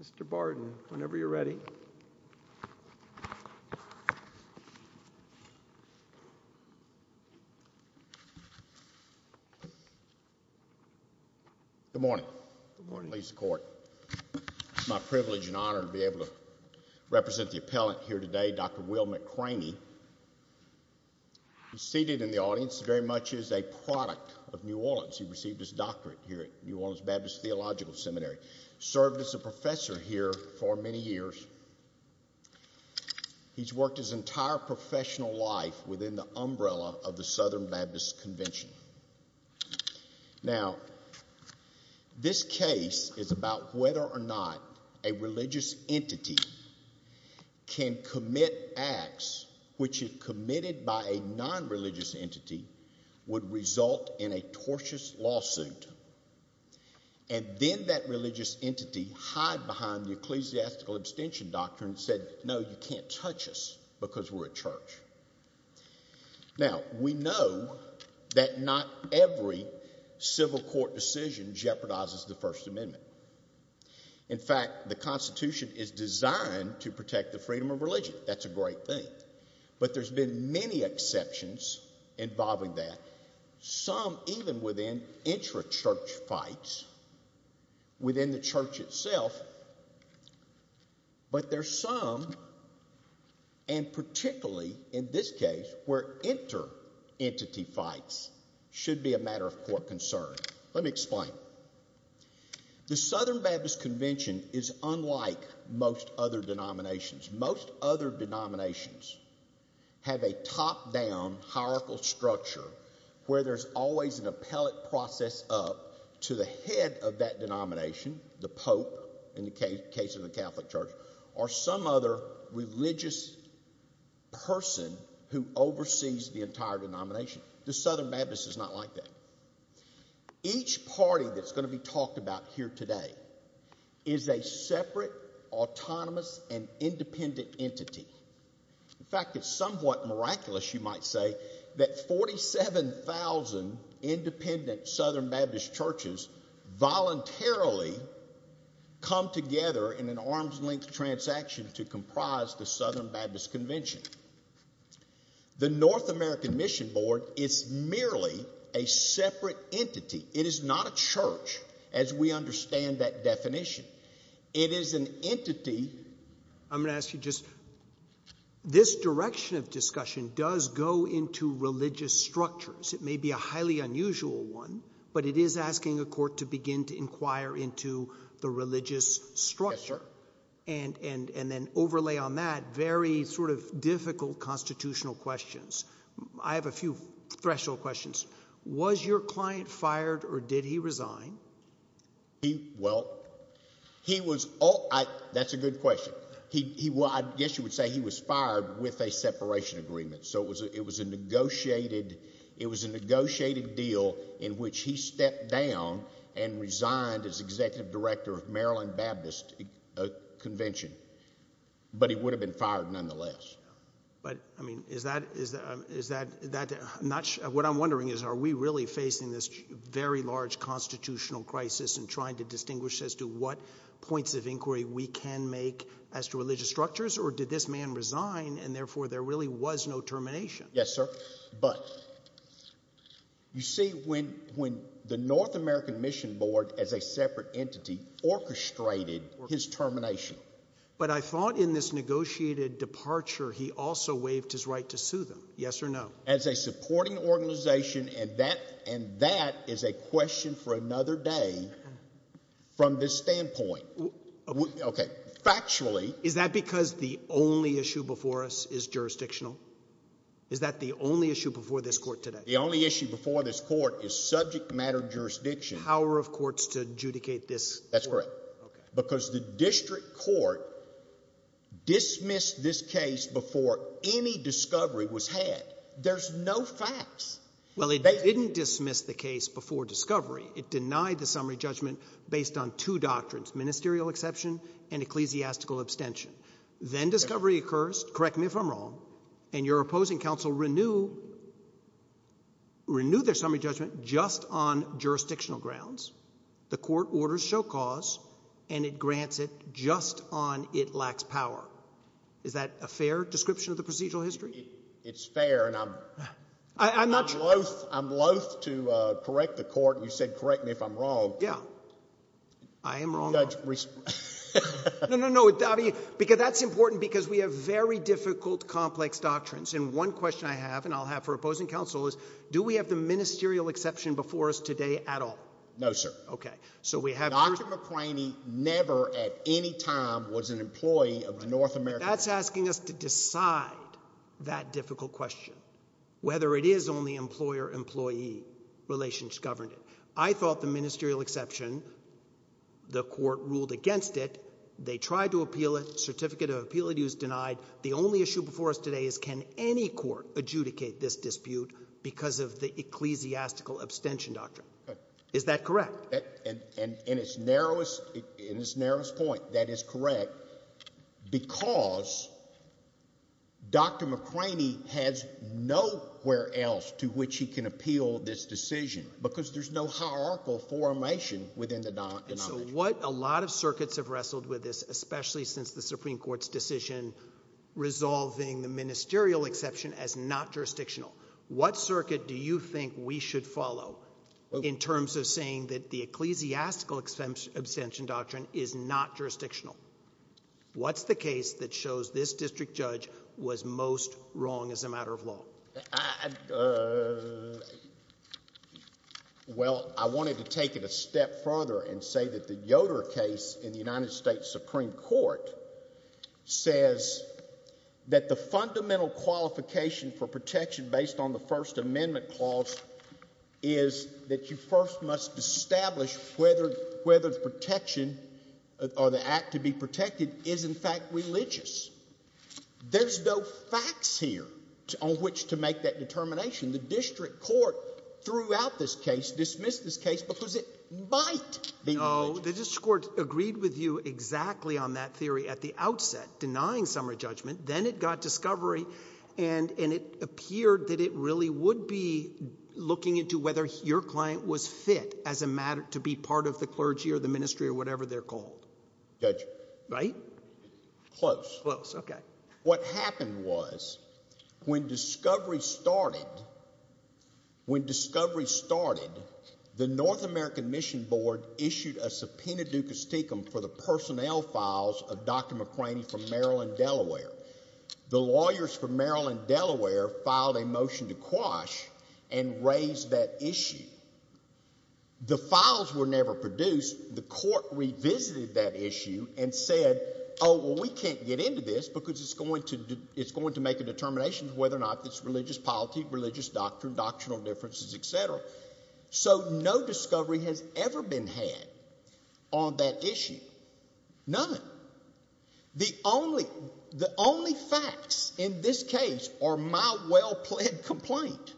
Mr. Barton, whenever you're ready. Good morning, ladies and gentlemen, it's my privilege and honor to be able to represent the appellate here today, Dr. Will McRaney, seated in the audience very much is a product of New Orleans. He received his doctorate here at New Orleans Baptist Theological Seminary, served as a professor here for many years. He's worked his entire professional life within the umbrella of the Southern Baptist Convention. Now, this case is about whether or not a religious entity can commit acts which is committed by a non-religious entity would result in a tortious lawsuit, and then that religious entity hide behind the ecclesiastical abstention doctrine and said, no, you can't touch us because we're a church. Now, we know that not every civil court decision jeopardizes the First Amendment. In fact, the Constitution is designed to protect the freedom of religion, that's a great thing, but there's been many exceptions involving that. Some even within intra-church fights within the church itself, but there's some, and particularly in this case, where inter-entity fights should be a matter of court concern. Let me explain. The Southern Baptist Convention is unlike most other denominations. Most other denominations have a top-down hierarchical structure where there's always an appellate process up to the head of that denomination, the pope, in the case of the Catholic Church, or some other religious person who oversees the entire denomination. The Southern Baptist is not like that. Each party that's going to be talked about here today is a separate, autonomous, and independent entity. In fact, it's somewhat miraculous, you might say, that 47,000 independent Southern Baptist churches voluntarily come together in an arm's-length transaction to comprise the Southern Baptist Convention. The North American Mission Board is merely a separate entity. It is not a church, as we understand that definition. It is an entity... I'm going to ask you just... This direction of discussion does go into religious structures. It may be a highly unusual one, but it is asking a court to begin to inquire into the religious structure, and then overlay on that very difficult constitutional questions. I have a few threshold questions. Was your client fired, or did he resign? Well, he was... That's a good question. I guess you would say he was fired with a separation agreement. It was a negotiated deal in which he stepped down and resigned as Executive Director of Maryland Baptist Convention, but he would have been fired nonetheless. Is that... What I'm wondering is, are we really facing this very large constitutional crisis in trying to distinguish as to what points of inquiry we can make as to religious structures, or did this man resign, and therefore, there really was no termination? Yes, sir, but you see, when the North American Mission Board, as a separate entity, orchestrated his termination... But I thought in this negotiated departure, he also waived his right to sue them, yes or no? As a supporting organization, and that is a question for another day from this standpoint. Okay. Factually... Is that because the only issue before us is jurisdictional? Is that the only issue before this court today? The only issue before this court is subject matter jurisdiction. Power of courts to adjudicate this? That's correct. Because the district court dismissed this case before any discovery was had. There's no facts. Well, it didn't dismiss the case before discovery. It denied the summary judgment based on two doctrines, ministerial exception and ecclesiastical abstention. Then discovery occurs, correct me if I'm wrong, and your opposing counsel renewed their summary judgment just on jurisdictional grounds. The court orders show cause, and it grants it just on it lacks power. Is that a fair description of the procedural history? It's fair, and I'm loathe to correct the court, and you said correct me if I'm wrong. Yeah. I am wrong. Judge, respond. No, no, no, because that's important because we have very difficult, complex doctrines, and one question I have, and I'll have for opposing counsel is, do we have the ministerial exception before us today at all? No, sir. Okay. So we have... Dr. McCraney never at any time was an employee of a North American... That's asking us to decide that difficult question, whether it is only employer-employee relations governing it. I thought the ministerial exception, the court ruled against it. They tried to appeal it, certificate of appeal is denied. The only issue before us today is, can any court adjudicate this dispute because of the ecclesiastical abstention doctrine? Is that correct? In its narrowest point, that is correct because Dr. McCraney has nowhere else to which he can appeal this decision because there's no hierarchical formation within the... What a lot of circuits have wrestled with this, especially since the Supreme Court's decision resolving the ministerial exception as not jurisdictional. What circuit do you think we should follow in terms of saying that the ecclesiastical abstention doctrine is not jurisdictional? What's the case that shows this district judge was most wrong as a matter of law? I... Uh... Well, I wanted to take it a step further and say that the Yoder case in the United States Supreme Court says that the fundamental qualification for protection based on the First Amendment clause is that you first must establish whether the protection or the act to be protected is in fact religious. There's no facts here on which to make that determination. The district court throughout this case dismissed this case because it might be religious. No, the district court agreed with you exactly on that theory at the outset, denying summary into whether your client was fit as a matter... To be part of the clergy or the ministry or whatever they're called. Judge. Right? Close. Close. Okay. What happened was when discovery started, when discovery started, the North American Mission Board issued a subpoena duca sticum for the personnel files of Dr. McCraney from Maryland, Delaware. The lawyers from Maryland, Delaware filed a motion to quash and raise that issue. The files were never produced. The court revisited that issue and said, oh, well, we can't get into this because it's going to... It's going to make a determination whether or not it's religious polity, religious doctrine, doctrinal differences, et cetera. So no discovery has ever been had on that issue, none. The only facts in this case are my well-pled complaint,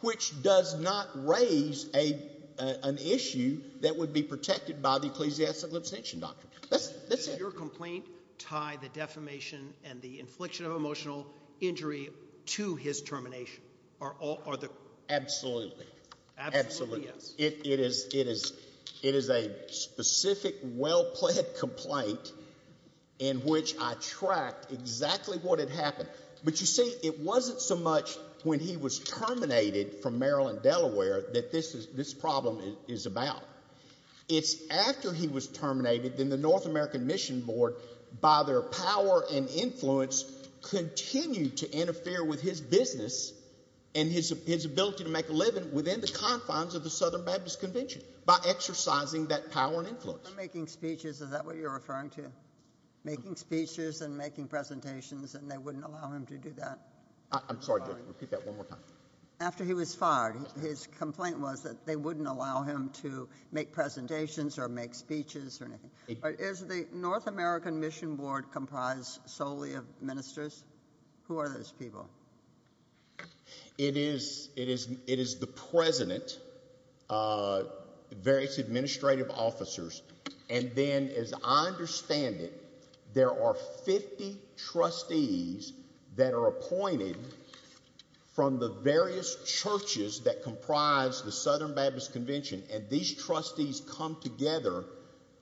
which does not raise an issue that would be protected by the Ecclesiastical Extension Doctrine. That's it. Does your complaint tie the defamation and the infliction of emotional injury to his termination? Absolutely. Absolutely, yes. It is a specific, well-pled complaint in which I tracked exactly what had happened. But you see, it wasn't so much when he was terminated from Maryland, Delaware that this problem is about. It's after he was terminated, then the North American Mission Board, by their power and influence, continued to interfere with his business and his ability to make a living within the confines of the Southern Baptist Convention by exercising that power and influence. Making speeches, is that what you're referring to? Making speeches and making presentations and they wouldn't allow him to do that? I'm sorry, repeat that one more time. After he was fired, his complaint was that they wouldn't allow him to make presentations or make speeches or anything. Is the North American Mission Board comprised solely of ministers? Who are those people? It is the president, various administrative officers, and then as I understand it, there are 50 trustees that are appointed from the various churches that comprise the Southern Baptist Convention and these trustees come together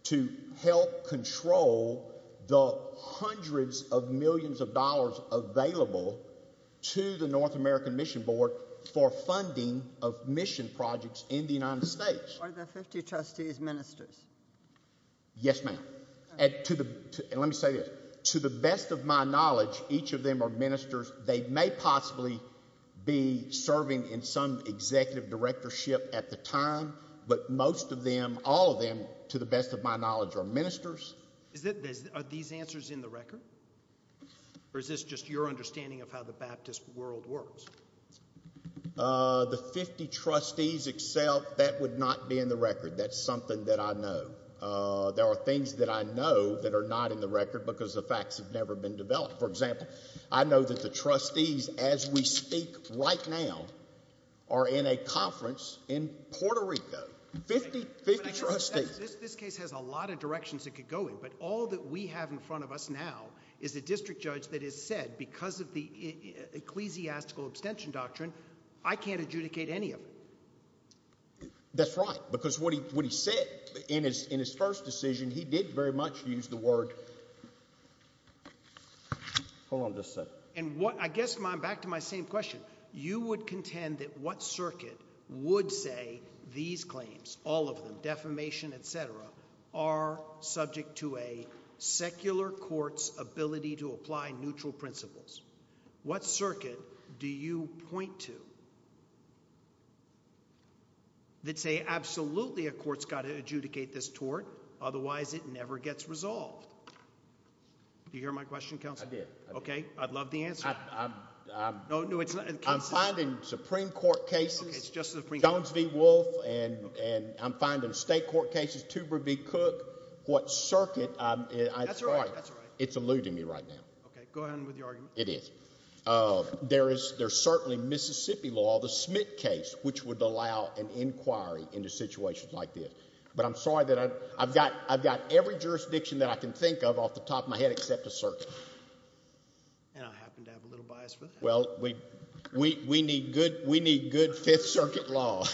to help control the hundreds of millions of dollars available to the North American Mission Board for funding of mission projects in the United States. Are the 50 trustees ministers? Yes, ma'am. And let me say this, to the best of my knowledge, each of them are ministers. They may possibly be serving in some executive directorship at the time, but most of them, Are these answers in the record or is this just your understanding of how the Baptist world works? The 50 trustees, that would not be in the record. That's something that I know. There are things that I know that are not in the record because the facts have never been developed. For example, I know that the trustees, as we speak right now, are in a conference in Puerto Rico. 50 trustees. This case has a lot of directions it could go in, but all that we have in front of us now is a district judge that has said, because of the ecclesiastical abstention doctrine, I can't adjudicate any of them. That's right. Because what he said in his first decision, he did very much use the word, hold on just a second. I guess I'm back to my same question. You would contend that what circuit would say these claims, all of them, defamation, et cetera, are subject to a secular court's ability to apply neutral principles? What circuit do you point to that say, absolutely, a court's got to adjudicate this tort, otherwise it never gets resolved? Do you hear my question, Counselor? I did. Okay. I'd love the answer. I'm finding Supreme Court cases, Jones v. Wolf, and I'm finding state court cases, Tuber v. Cook. What circuit? That's all right. That's all right. It's eluding me right now. Okay. Go ahead with your argument. It is. There's certainly Mississippi law, the Smith case, which would allow an inquiry into situations like this. But I'm sorry that I've got every jurisdiction that I can think of off the top of my head except a circuit. And I happen to have a little bias for that. Well, we need good Fifth Circuit law.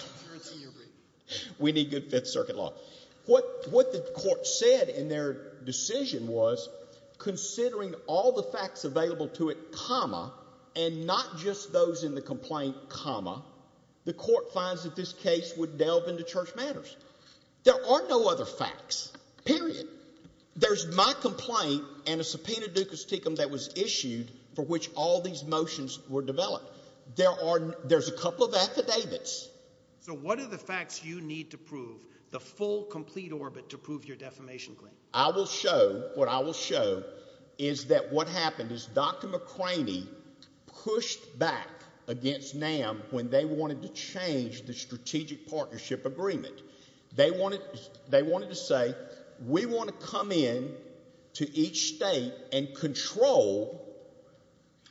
We need good Fifth Circuit law. What the court said in their decision was, considering all the facts available to it, comma, and not just those in the complaint, comma, the court finds that this case would delve into church matters. There are no other facts, period. There's my complaint and a subpoena ducus ticum that was issued for which all these motions were developed. There's a couple of affidavits. So what are the facts you need to prove, the full, complete orbit to prove your defamation claim? I will show, what I will show is that what happened is Dr. McCraney pushed back against NAM when they wanted to change the strategic partnership agreement. They wanted to say, we want to come in to each state and control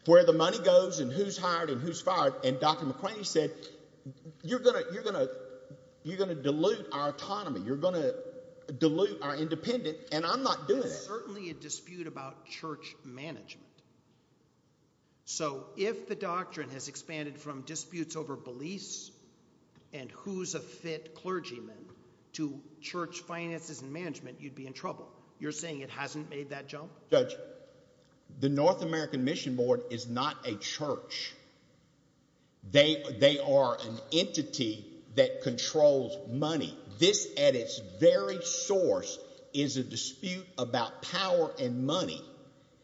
where the money goes and who's hired and who's fired. And Dr. McCraney said, you're going to dilute our autonomy. You're going to dilute our independence. And I'm not doing it. There's certainly a dispute about church management. So, if the doctrine has expanded from disputes over beliefs and who's a fit clergyman to church finances and management, you'd be in trouble. You're saying it hasn't made that jump? Judge, the North American Mission Board is not a church. They are an entity that controls money. This at its very source is a dispute about power and money.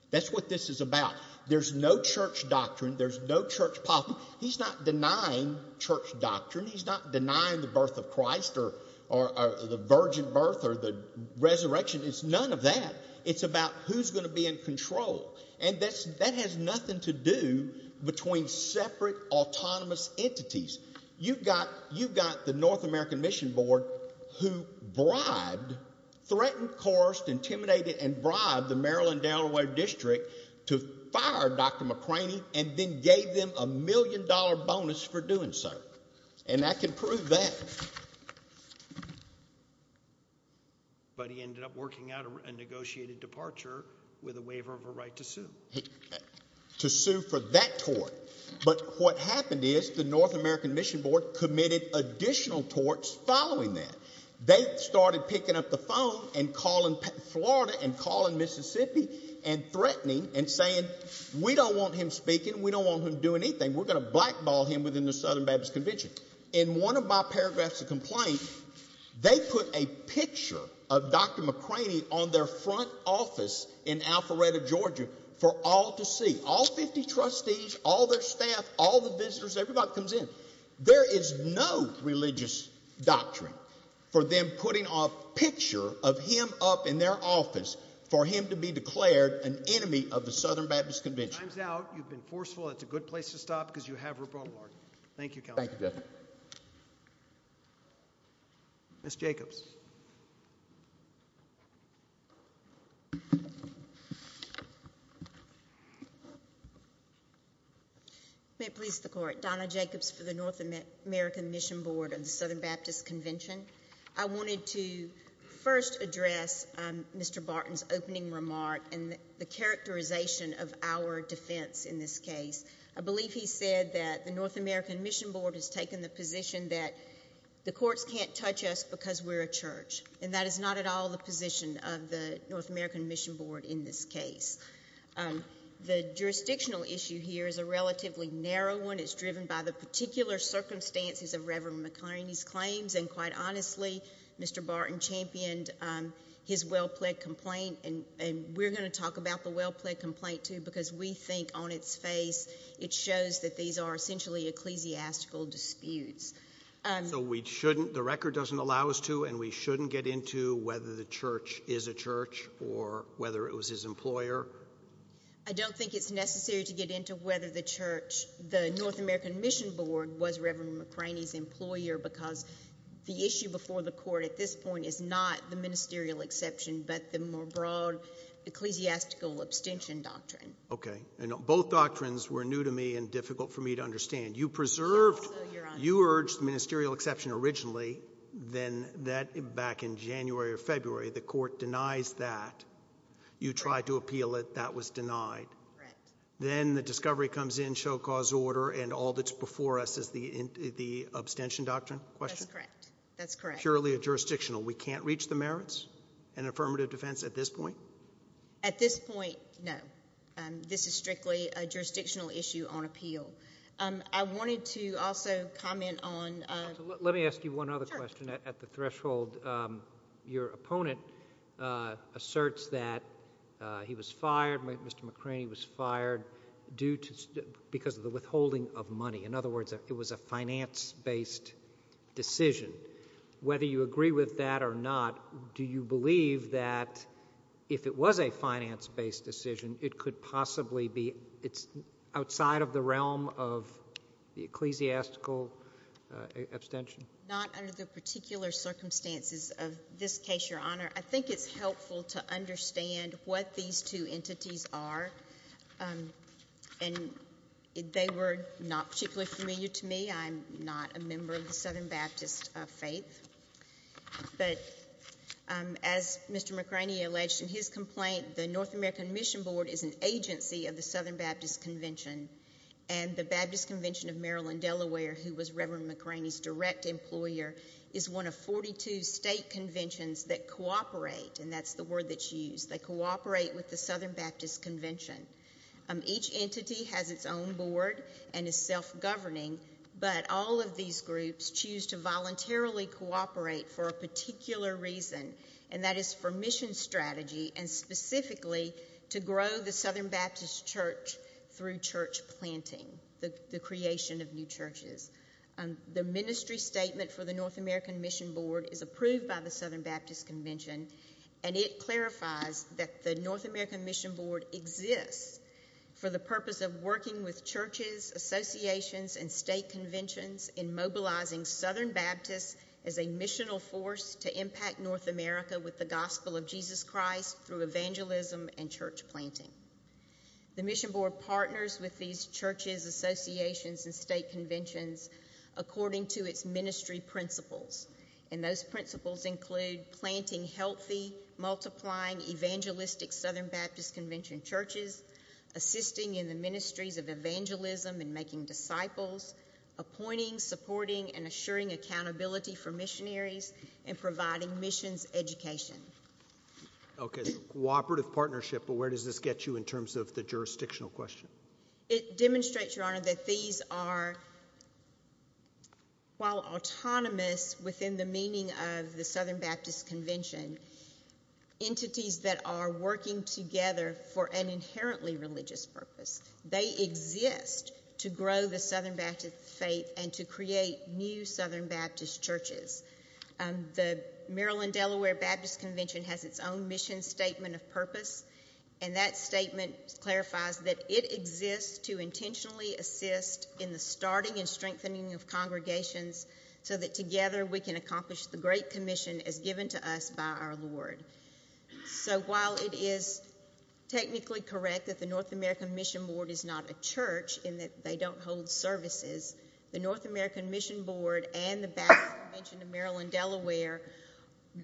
That's what this is about. There's no church doctrine. There's no church policy. He's not denying church doctrine. He's not denying the birth of Christ or the virgin birth or the resurrection. It's none of that. It's about who's going to be in control. And that has nothing to do between separate autonomous entities. You've got the North American Mission Board who bribed, threatened, coerced, intimidated, and bribed the Maryland-Delaware district to fire Dr. McCraney and then gave them a million dollar bonus for doing so. And I can prove that. But he ended up working out a negotiated departure with a waiver of a right to sue. To sue for that tort. But what happened is the North American Mission Board committed additional torts following that. They started picking up the phone and calling Florida and calling Mississippi and threatening and saying, we don't want him speaking. We don't want him doing anything. We're going to blackball him within the Southern Baptist Convention. In one of my paragraphs of complaint, they put a picture of Dr. McCraney on their front office in Alpharetta, Georgia for all to see. All 50 trustees, all their staff, all the visitors, everybody comes in. There is no religious doctrine for them putting off a picture of him up in their office for him to be declared an enemy of the Southern Baptist Convention. Time's out. You've been forceful. It's a good place to stop because you have rebuttal argument. Thank you, Counselor. Thank you, Judge. Ms. Jacobs. May it please the Court. Donna Jacobs for the North American Mission Board of the Southern Baptist Convention. I wanted to first address Mr. Barton's opening remark and the characterization of our defense in this case. I believe he said that the North American Mission Board has taken the position that the courts can't touch us because we're a church. That is not at all the position of the North American Mission Board in this case. The jurisdictional issue here is a relatively narrow one. It's driven by the particular circumstances of Reverend McCraney's claims. Quite honestly, Mr. Barton championed his well-plaid complaint. We're going to talk about the well-plaid complaint, too, because we think on its face it shows that these are essentially ecclesiastical disputes. So the record doesn't allow us to and we shouldn't get into whether the church is a church or whether it was his employer? I don't think it's necessary to get into whether the North American Mission Board was Reverend McCraney's employer because the issue before the court at this point is not the ministerial exception but the more broad ecclesiastical abstention doctrine. Okay. You preserved, you urged ministerial exception originally, then that back in January or February the court denies that. You tried to appeal it. That was denied. Correct. Then the discovery comes in, show cause order, and all that's before us is the abstention doctrine question? That's correct. That's correct. Purely a jurisdictional. We can't reach the merits and affirmative defense at this point? At this point, no. This is strictly a jurisdictional issue on appeal. I wanted to also comment on... Let me ask you one other question at the threshold. Your opponent asserts that he was fired, Mr. McCraney was fired because of the withholding of money. In other words, it was a finance-based decision. Whether you agree with that or not, do you believe that if it was a finance-based decision, it could possibly be... It's outside of the realm of the ecclesiastical abstention? Not under the particular circumstances of this case, Your Honor. I think it's helpful to understand what these two entities are. They were not particularly familiar to me. I'm not a member of the Southern Baptist faith. As Mr. McCraney alleged in his complaint, the North American Mission Board is an agency of the Southern Baptist Convention. The Baptist Convention of Maryland-Delaware, who was Reverend McCraney's direct employer, is one of 42 state conventions that cooperate. That's the word that's used. They cooperate with the Southern Baptist Convention. Each entity has its own board and is self-governing, but all of these groups choose to voluntarily cooperate for a particular reason, and that is for mission strategy and specifically to grow the Southern Baptist Church through church planting, the creation of new churches. The ministry statement for the North American Mission Board is approved by the Southern Baptist Convention, and it clarifies that the North American Mission Board exists for the purpose of working with churches, associations, and state conventions in mobilizing Southern Baptists as a missional force to impact North America with the gospel of Jesus Christ through evangelism and church planting. The Mission Board partners with these churches, associations, and state conventions according to its ministry principles, and those principles include planting healthy, multiplying, evangelistic Southern Baptist Convention churches, assisting in the ministries of evangelism and making disciples, appointing, supporting, and assuring accountability for missionaries, and providing missions education. Okay, so a cooperative partnership, but where does this get you in terms of the jurisdictional question? It demonstrates, Your Honor, that these are, while autonomous within the meaning of the Southern Baptist Convention, entities that are working together for an inherently religious purpose. They exist to grow the Southern Baptist faith and to create new Southern Baptist churches. The Maryland-Delaware Baptist Convention has its own mission statement of purpose, and that statement clarifies that it exists to intentionally assist in the starting and strengthening of congregations so that together we can accomplish the great commission as given to us by our Lord. So while it is technically correct that the North American Mission Board is not a church in that they don't hold services, the North American Mission Board and the Baptist Convention of Maryland-Delaware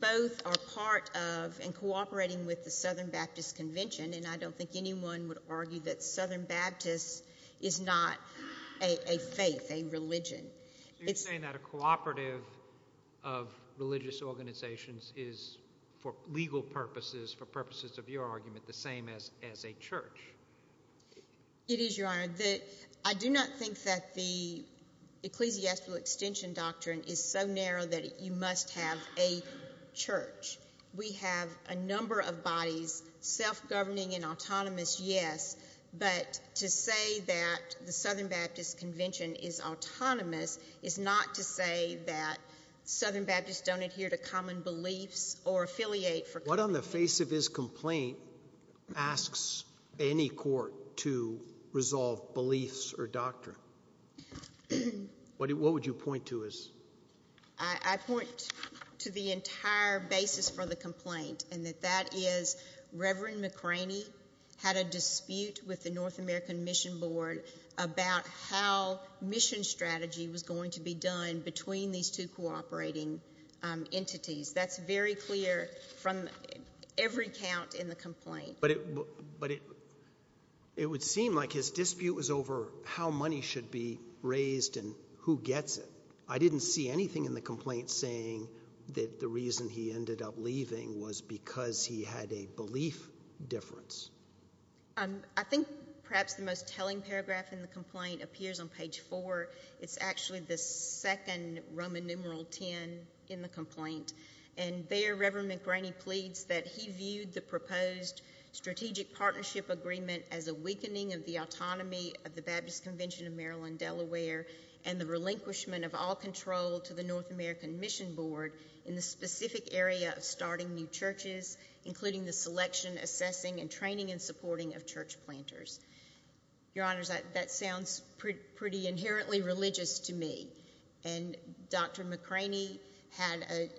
both are part of and cooperating with the Southern Baptist Convention, and I don't think anyone would argue that Southern Baptist is not a faith, a religion. So you're saying that a cooperative of religious organizations is, for legal purposes, for purposes of your argument, the same as a church? It is, Your Honor. I do not think that the ecclesiastical extension doctrine is so narrow that you must have a church. We have a number of bodies, self-governing and autonomous, yes, but to say that the Southern Baptist is not to say that Southern Baptists don't adhere to common beliefs or affiliate for... What on the face of his complaint asks any court to resolve beliefs or doctrine? What would you point to as... I point to the entire basis for the complaint, and that that is Reverend McCraney had a dispute with the North American Mission Board about how mission strategy was going to be done between these two cooperating entities. That's very clear from every count in the complaint. But it would seem like his dispute was over how money should be raised and who gets it. I didn't see anything in the complaint saying that the reason he ended up leaving was because he had a belief difference. I think perhaps the most telling paragraph in the complaint appears on page four. It's actually the second Roman numeral 10 in the complaint. There Reverend McCraney pleads that he viewed the proposed strategic partnership agreement as a weakening of the autonomy of the Baptist Convention of Maryland-Delaware and the relinquishment of all control to the North American Mission Board in the specific area of starting new training and supporting of church planters. Your Honors, that sounds pretty inherently religious to me. And Dr. McCraney had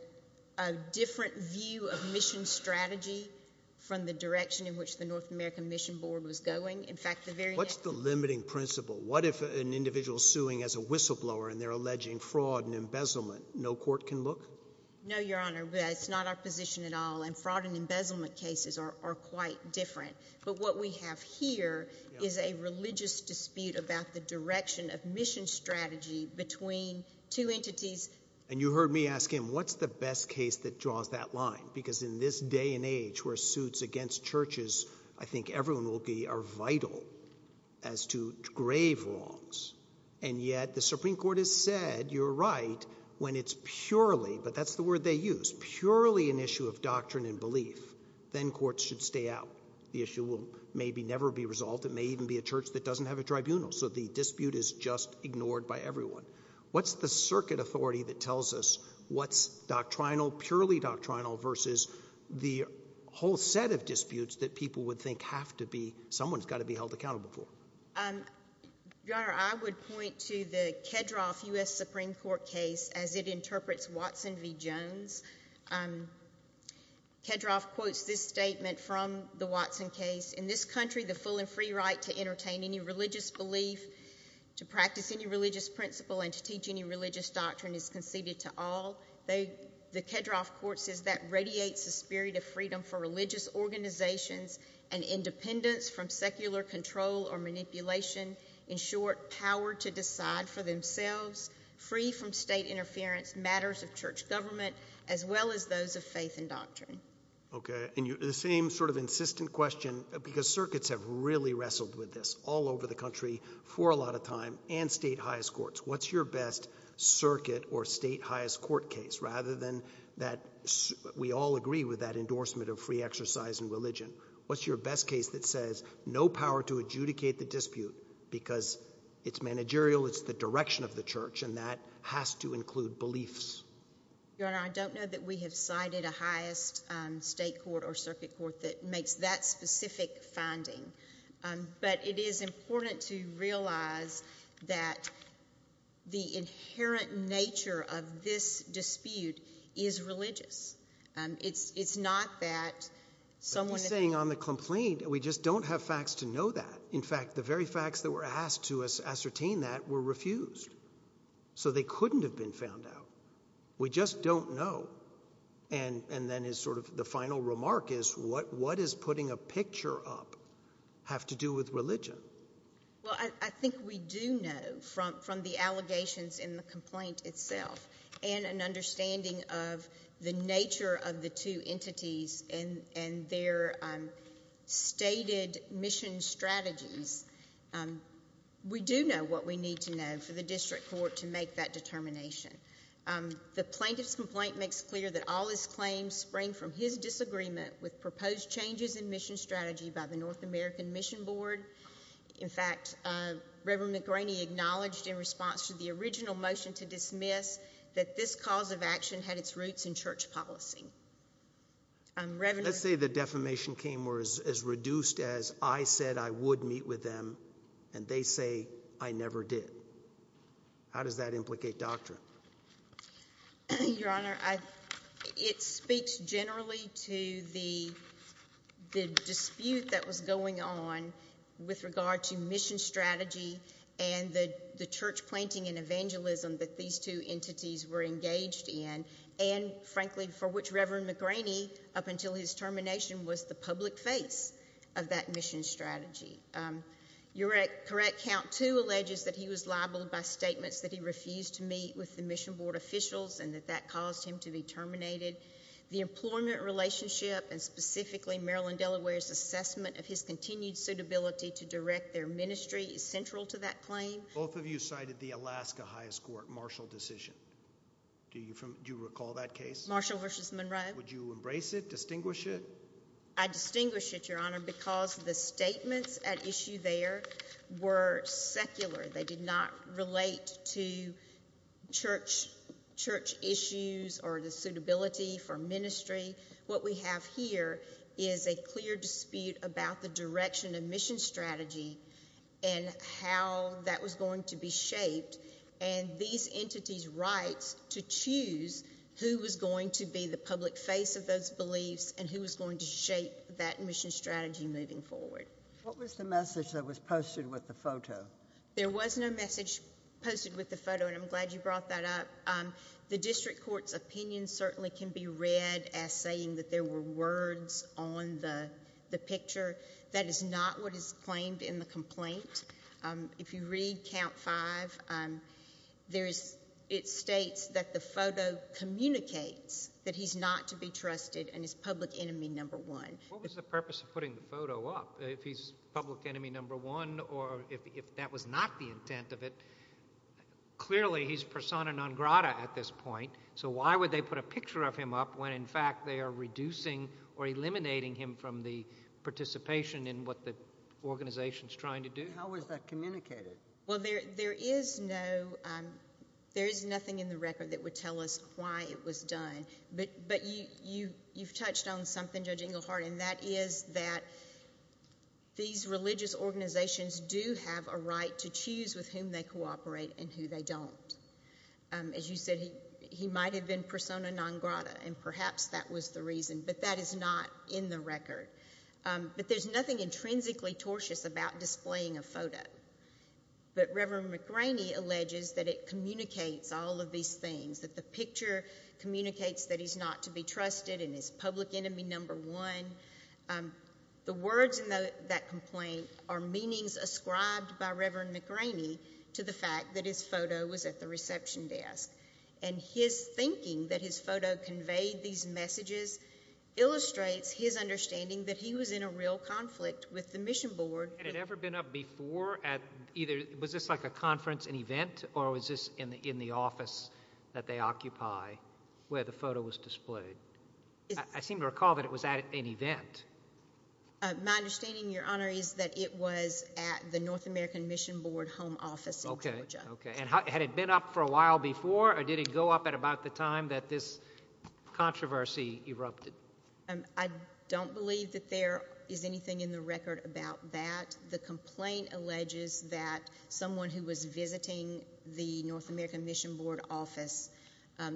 a different view of mission strategy from the direction in which the North American Mission Board was going. In fact, the very... What's the limiting principle? What if an individual is suing as a whistleblower and they're alleging fraud and embezzlement? No court can look? No, Your Honor. It's not our position at all. Fraud and embezzlement cases are quite different. But what we have here is a religious dispute about the direction of mission strategy between two entities. And you heard me ask him, what's the best case that draws that line? Because in this day and age where suits against churches, I think everyone will be, are vital as to grave wrongs. And yet the Supreme Court has said, you're right, when it's purely, but that's the word they use, purely an issue of doctrine and belief, then courts should stay out. The issue will maybe never be resolved. It may even be a church that doesn't have a tribunal. So the dispute is just ignored by everyone. What's the circuit authority that tells us what's doctrinal, purely doctrinal versus the whole set of disputes that people would think have to be, someone's got to be held accountable for? Your Honor, I would point to the Kedroff U.S. Supreme Court case as it interprets Watson v. Jones. Kedroff quotes this statement from the Watson case, in this country, the full and free right to entertain any religious belief, to practice any religious principle, and to teach any religious doctrine is conceded to all. The Kedroff court says that radiates the spirit of freedom for religious organizations and independence from secular control or manipulation, in short, power to decide for themselves, free from state interference, matters of church government, as well as those of faith and doctrine. Okay. And the same sort of insistent question, because circuits have really wrestled with this all over the country for a lot of time, and state highest courts. What's your best circuit or state highest court case, rather than that, we all agree with that endorsement of free exercise in religion. What's your best case that says, no power to adjudicate the dispute because it's managerial, it's the direction of the church, and that has to include beliefs? Your Honor, I don't know that we have cited a highest state court or circuit court that makes that specific finding, but it is important to realize that the inherent nature of this dispute is religious. It's not that someone- But you're saying on the complaint, we just don't have facts to know that. In fact, the very facts that were asked to us ascertain that were refused. So they couldn't have been found out. We just don't know. And then, as sort of the final remark is, what is putting a picture up have to do with religion? Well, I think we do know from the allegations in the complaint itself, and an understanding of the nature of the two entities and their stated mission strategies, we do know what we need to know for the district court to make that determination. The plaintiff's complaint makes clear that all his claims spring from his disagreement with proposed changes in mission strategy by the North American Mission Board. In fact, Reverend McGraney acknowledged in response to the original motion to dismiss that this cause of action had its roots in church policy. Let's say the defamation came as reduced as, I said I would meet with them, and they say I never did. How does that implicate doctrine? Your Honor, it speaks generally to the dispute that was going on with regard to mission strategy and the church planting and evangelism that these two entities were engaged in and, frankly, for which Reverend McGraney, up until his termination, was the public face of that mission strategy. Your correct count, too, alleges that he was liable by statements that he refused to meet with the mission board officials and that that caused him to be terminated. The employment relationship, and specifically Maryland-Delaware's assessment of his continued suitability to direct their ministry, is central to that claim. Both of you cited the Alaska Highest Court Marshall decision. Do you recall that case? Marshall v. Monroe. Would you embrace it, distinguish it? I distinguish it, Your Honor, because the statements at issue there were secular. They did not relate to church issues or the suitability for ministry. What we have here is a clear dispute about the direction of mission strategy and how that was going to be shaped and these entities' rights to choose who was going to be the public face of those beliefs and who was going to shape that mission strategy moving forward. What was the message that was posted with the photo? There was no message posted with the photo, and I'm glad you brought that up. The district court's opinion certainly can be read as saying that there were words on the picture. That is not what is claimed in the complaint. If you read count five, it states that the photo communicates that he's not to be trusted and is public enemy number one. What was the purpose of putting the photo up? If he's public enemy number one or if that was not the intent of it, clearly he's persona non grata at this point, so why would they put a picture of him up when in fact they are reducing or eliminating him from the participation in what the organization's trying to do? How was that communicated? There is nothing in the record that would tell us why it was done, but you've touched on something, Judge Englehart, and that is that these religious organizations do have a right to choose with whom they cooperate and who they don't. As you said, he might have been persona non grata, and perhaps that was the reason, but that is not in the record, but there's nothing intrinsically tortious about displaying a photo, but Reverend McGraney alleges that it communicates all of these things, that the picture communicates that he's not to be trusted and is public enemy number one. The words in that complaint are meanings ascribed by Reverend McGraney to the fact that his photo was at the reception desk, and his thinking that his photo conveyed these messages illustrates his understanding that he was in a real conflict with the mission board. Had it ever been up before at either, was this like a conference, an event, or was this in the office that they occupy where the photo was displayed? I seem to recall that it was at an event. My understanding, Your Honor, is that it was at the North American Mission Board home office in Georgia. Okay. Had it been up for a while before, or did it go up at about the time that this controversy erupted? I don't believe that there is anything in the record about that. The complaint alleges that someone who was visiting the North American Mission Board office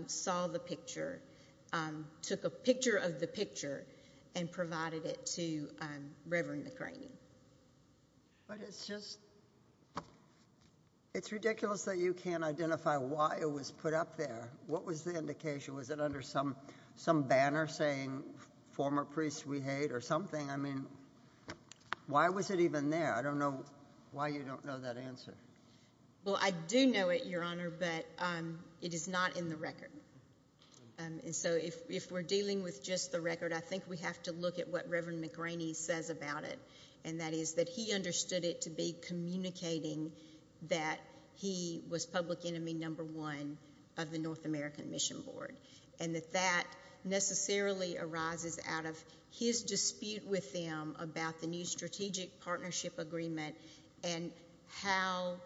saw the picture, took a picture of the picture, and provided it to Reverend McGraney. But it's just, it's ridiculous that you can't identify why it was put up there. What was the indication? Was it under some banner saying former priest we hate or something? I mean, why was it even there? I don't know why you don't know that answer. Well, I do know it, Your Honor, but it is not in the record. And so if we're dealing with just the record, I think we have to look at what Reverend McGraney says about it, and that is that he understood it to be communicating that he was public enemy number one of the North American Mission Board, and that that necessarily arises out of his dispute with them about the new strategic partnership agreement and how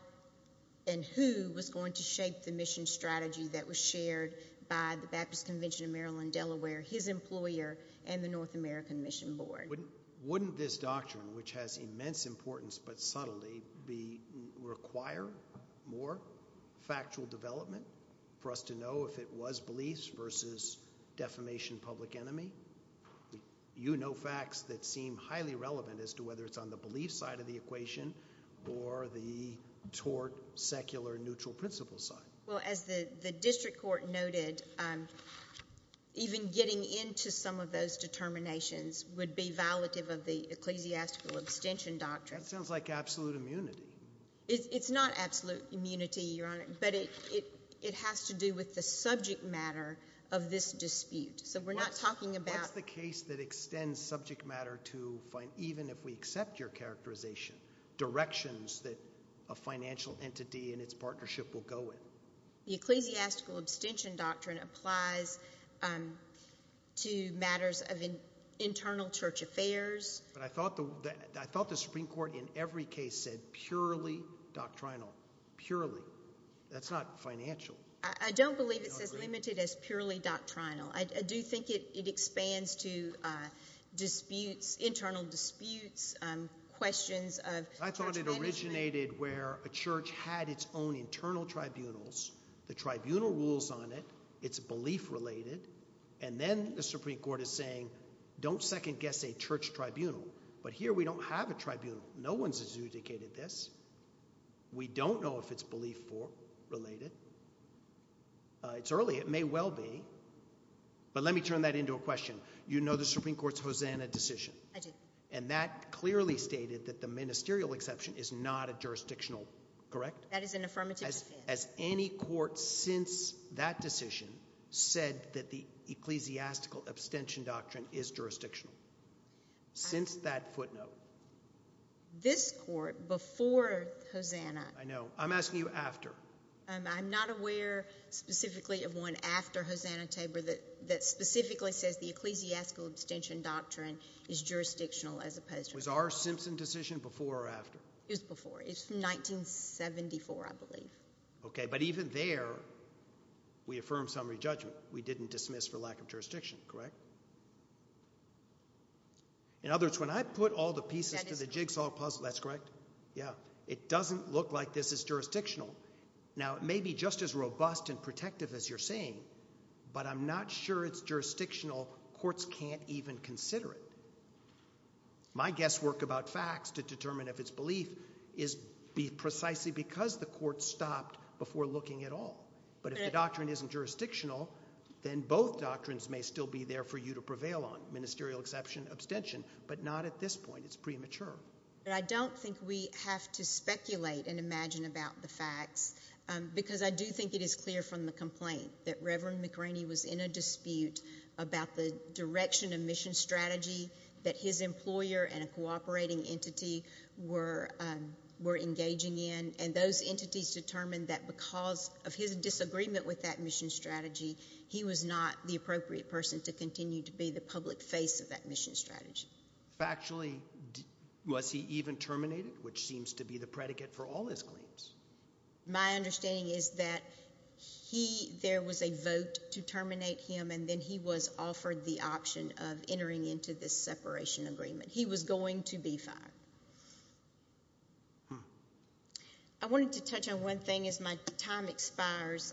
and who was going to shape the mission strategy that was shared by the Baptist Convention of Maryland-Delaware, his employer, and the North American Mission Board. Wouldn't this doctrine, which has immense importance but subtlety, require more factual development for us to know if it was beliefs versus defamation public enemy? You know facts that seem highly relevant as to whether it's on the belief side of the equation or the tort, secular, neutral principle side. Well, as the district court noted, even getting into some of those determinations would be violative of the ecclesiastical abstention doctrine. That sounds like absolute immunity. It's not absolute immunity, Your Honor, but it has to do with the subject matter of this dispute, so we're not talking about— What's the case that extends subject matter to, even if we accept your characterization, directions that a financial entity and its partnership will go in? The ecclesiastical abstention doctrine applies to matters of internal church affairs. But I thought the Supreme Court in every case said purely doctrinal, purely. That's not financial. I don't believe it's as limited as purely doctrinal. I do think it expands to disputes, internal disputes, questions of church management. I thought it originated where a church had its own internal tribunals, the tribunal rules on it, it's belief-related, and then the Supreme Court is saying, don't second-guess a church tribunal. But here we don't have a tribunal. No one's adjudicated this. We don't know if it's belief-related. It's early. It may well be. But let me turn that into a question. You know the Supreme Court's Hosanna decision. I do. And that clearly stated that the ministerial exception is not a jurisdictional—correct? That is an affirmative defense. Has any court since that decision said that the ecclesiastical abstention doctrine is jurisdictional? Since that footnote. This court, before Hosanna— I know. I'm asking you after. I'm not aware specifically of one after Hosanna Tabor that specifically says the ecclesiastical abstention doctrine is jurisdictional as opposed to— Was our Simpson decision before or after? It was before. It's from 1974, I believe. Okay. But even there, we affirm summary judgment. We didn't dismiss for lack of jurisdiction. Correct? In other words, when I put all the pieces to the jigsaw puzzle— That is correct. That's correct? Yeah. It doesn't look like this is jurisdictional. Now, it may be just as robust and protective as you're saying, but I'm not sure it's jurisdictional. Courts can't even consider it. My guesswork about facts to determine if it's belief is precisely because the court stopped before looking at all. But if the doctrine isn't jurisdictional, then both doctrines may still be there for you to prevail on, ministerial exception, abstention, but not at this point. It's premature. But I don't think we have to speculate and imagine about the facts because I do think it is clear from the complaint that Reverend McRaney was in a dispute about the direction of mission strategy that his employer and a cooperating entity were engaging in, and those entities determined that because of his disagreement with that mission strategy, he was not the appropriate person to continue to be the public face of that mission strategy. Factually, was he even terminated, which seems to be the predicate for all his claims? My understanding is that there was a vote to terminate him, and then he was offered the option of entering into this separation agreement. He was going to be fined. I wanted to touch on one thing as my time expires.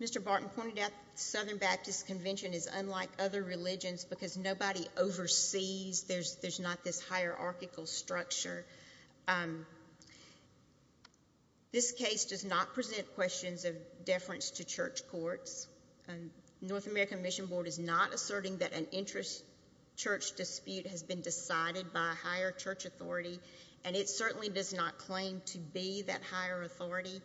Mr. Barton pointed out the Southern Baptist Convention is unlike other religions because nobody oversees. There's not this hierarchical structure. This case does not present questions of deference to church courts. North American Mission Board is not asserting that an interest church dispute has been decided by a higher church authority, and it certainly does not claim to be that higher authority.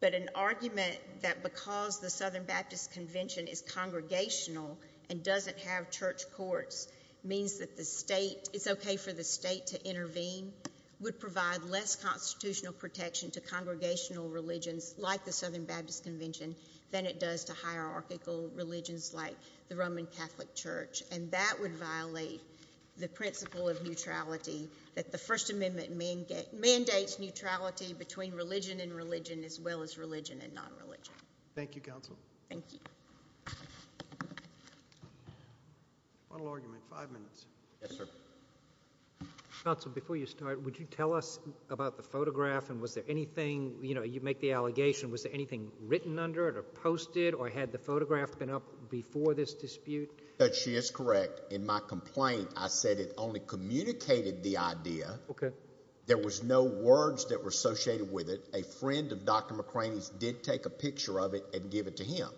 But an argument that because the Southern Baptist Convention is congregational and doesn't have church courts means that it's okay for the state to intervene would provide less constitutional protection to congregational religions like the Southern Baptist Convention than it does to hierarchical religions like the Roman Catholic Church. And that would violate the principle of neutrality that the First Amendment mandates neutrality between religion and religion as well as religion and non-religion. Thank you, Counsel. Thank you. Final argument, five minutes. Yes, sir. Counsel, before you start, would you tell us about the photograph, and was there anything, you know, you make the allegation, was there anything written under it or posted, or had the photograph been up before this dispute? Judge, she is correct. In my complaint, I said it only communicated the idea. Okay. There was no words that were associated with it. A friend of Dr. McCraney's did take a picture of it and give it to him.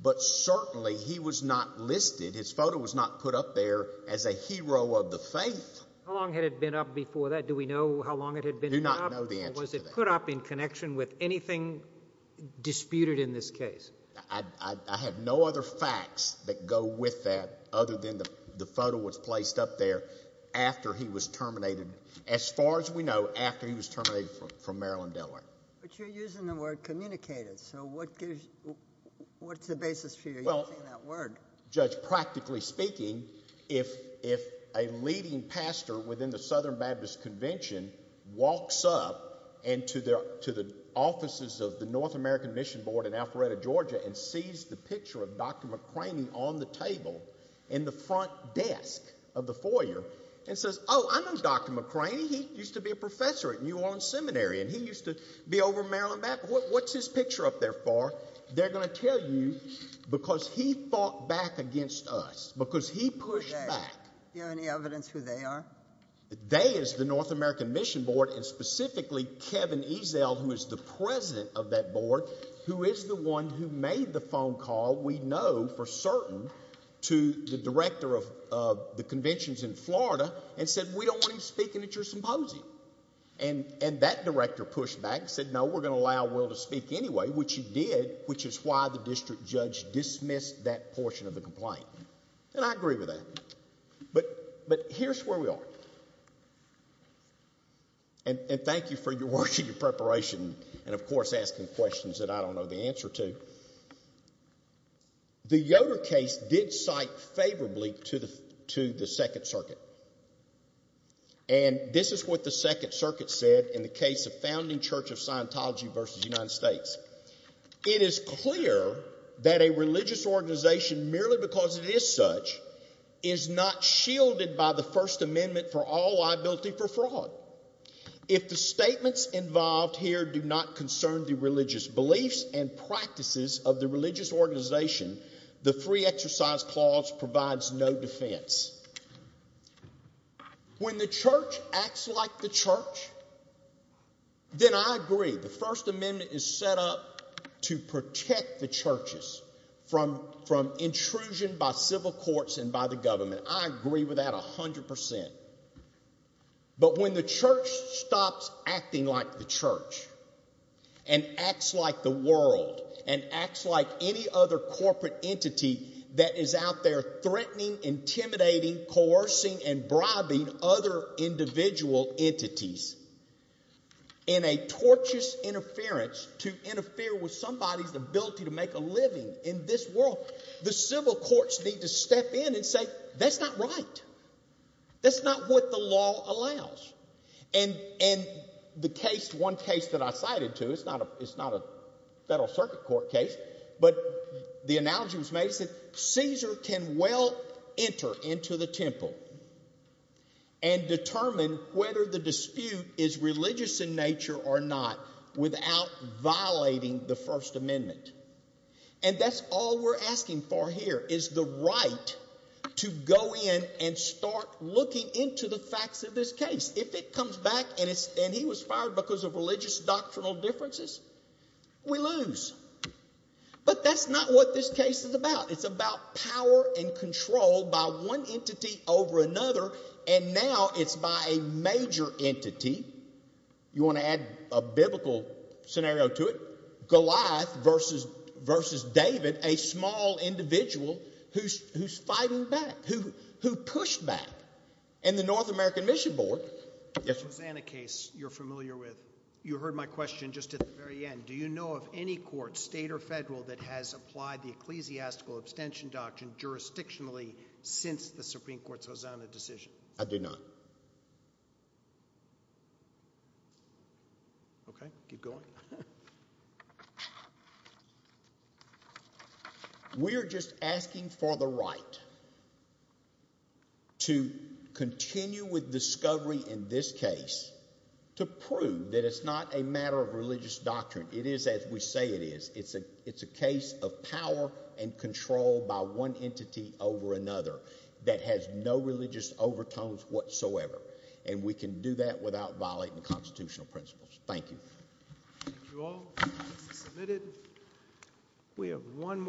But certainly he was not listed. His photo was not put up there as a hero of the faith. How long had it been up before that? Do we know how long it had been up? We do not know the answer to that. Or was it put up in connection with anything disputed in this case? I have no other facts that go with that other than the photo was placed up there after he was terminated, as far as we know, after he was terminated from Maryland-Delaware. But you're using the word communicated. So what's the basis for you using that word? Judge, practically speaking, if a leading pastor within the Southern Baptist Convention walks up to the offices of the North American Mission Board in Alpharetta, Georgia, and sees the picture of Dr. McCraney on the table in the front desk of the foyer and says, Oh, I know Dr. McCraney. He used to be a professor at New Orleans Seminary, and he used to be over at Maryland Baptist. What's his picture up there for? They're going to tell you because he fought back against us, because he pushed back. Do you have any evidence who they are? They is the North American Mission Board, and specifically Kevin Ezell, who is the president of that board, who is the one who made the phone call, we know for certain, to the director of the conventions in Florida and said, We don't want him speaking at your symposium. And that director pushed back and said, No, we're going to allow Will to speak anyway, which he did, which is why the district judge dismissed that portion of the complaint. And I agree with that. But here's where we are. And thank you for your work and your preparation and, of course, asking questions that I don't know the answer to. The Yoder case did cite favorably to the Second Circuit. And this is what the Second Circuit said in the case of Founding Church of Scientology v. United States. It is clear that a religious organization, merely because it is such, is not shielded by the First Amendment for all liability for fraud. If the statements involved here do not concern the religious beliefs and practices of the religious organization, the free exercise clause provides no defense. When the church acts like the church, then I agree. The First Amendment is set up to protect the churches from intrusion by civil courts and by the government. I agree with that 100 percent. But when the church stops acting like the church and acts like the world and acts like any other corporate entity that is out there threatening, intimidating, coercing, and bribing other individual entities in a tortuous interference to interfere with somebody's ability to make a living in this world, the civil courts need to step in and say, That's not right. That's not what the law allows. And the case, one case that I cited to, it's not a Federal Circuit Court case, but the analogy was made. It said Caesar can well enter into the temple and determine whether the dispute is religious in nature or not without violating the First Amendment. And that's all we're asking for here is the right to go in and start looking into the facts of this case. If it comes back and he was fired because of religious doctrinal differences, we lose. But that's not what this case is about. It's about power and control by one entity over another. And now it's by a major entity. You want to add a biblical scenario to it? Goliath versus David, a small individual who's fighting back, who pushed back. And the North American Mission Board. Yes, sir. Hosanna case you're familiar with. You heard my question just at the very end. Do you know of any court, state or federal, that has applied the ecclesiastical abstention doctrine jurisdictionally since the Supreme Court's Hosanna decision? I do not. Okay, keep going. We're just asking for the right. To continue with discovery in this case to prove that it's not a matter of religious doctrine. It is as we say it is. It's a it's a case of power and control by one entity over another that has no religious overtones whatsoever. And we can do that without violating constitutional principles. Thank you.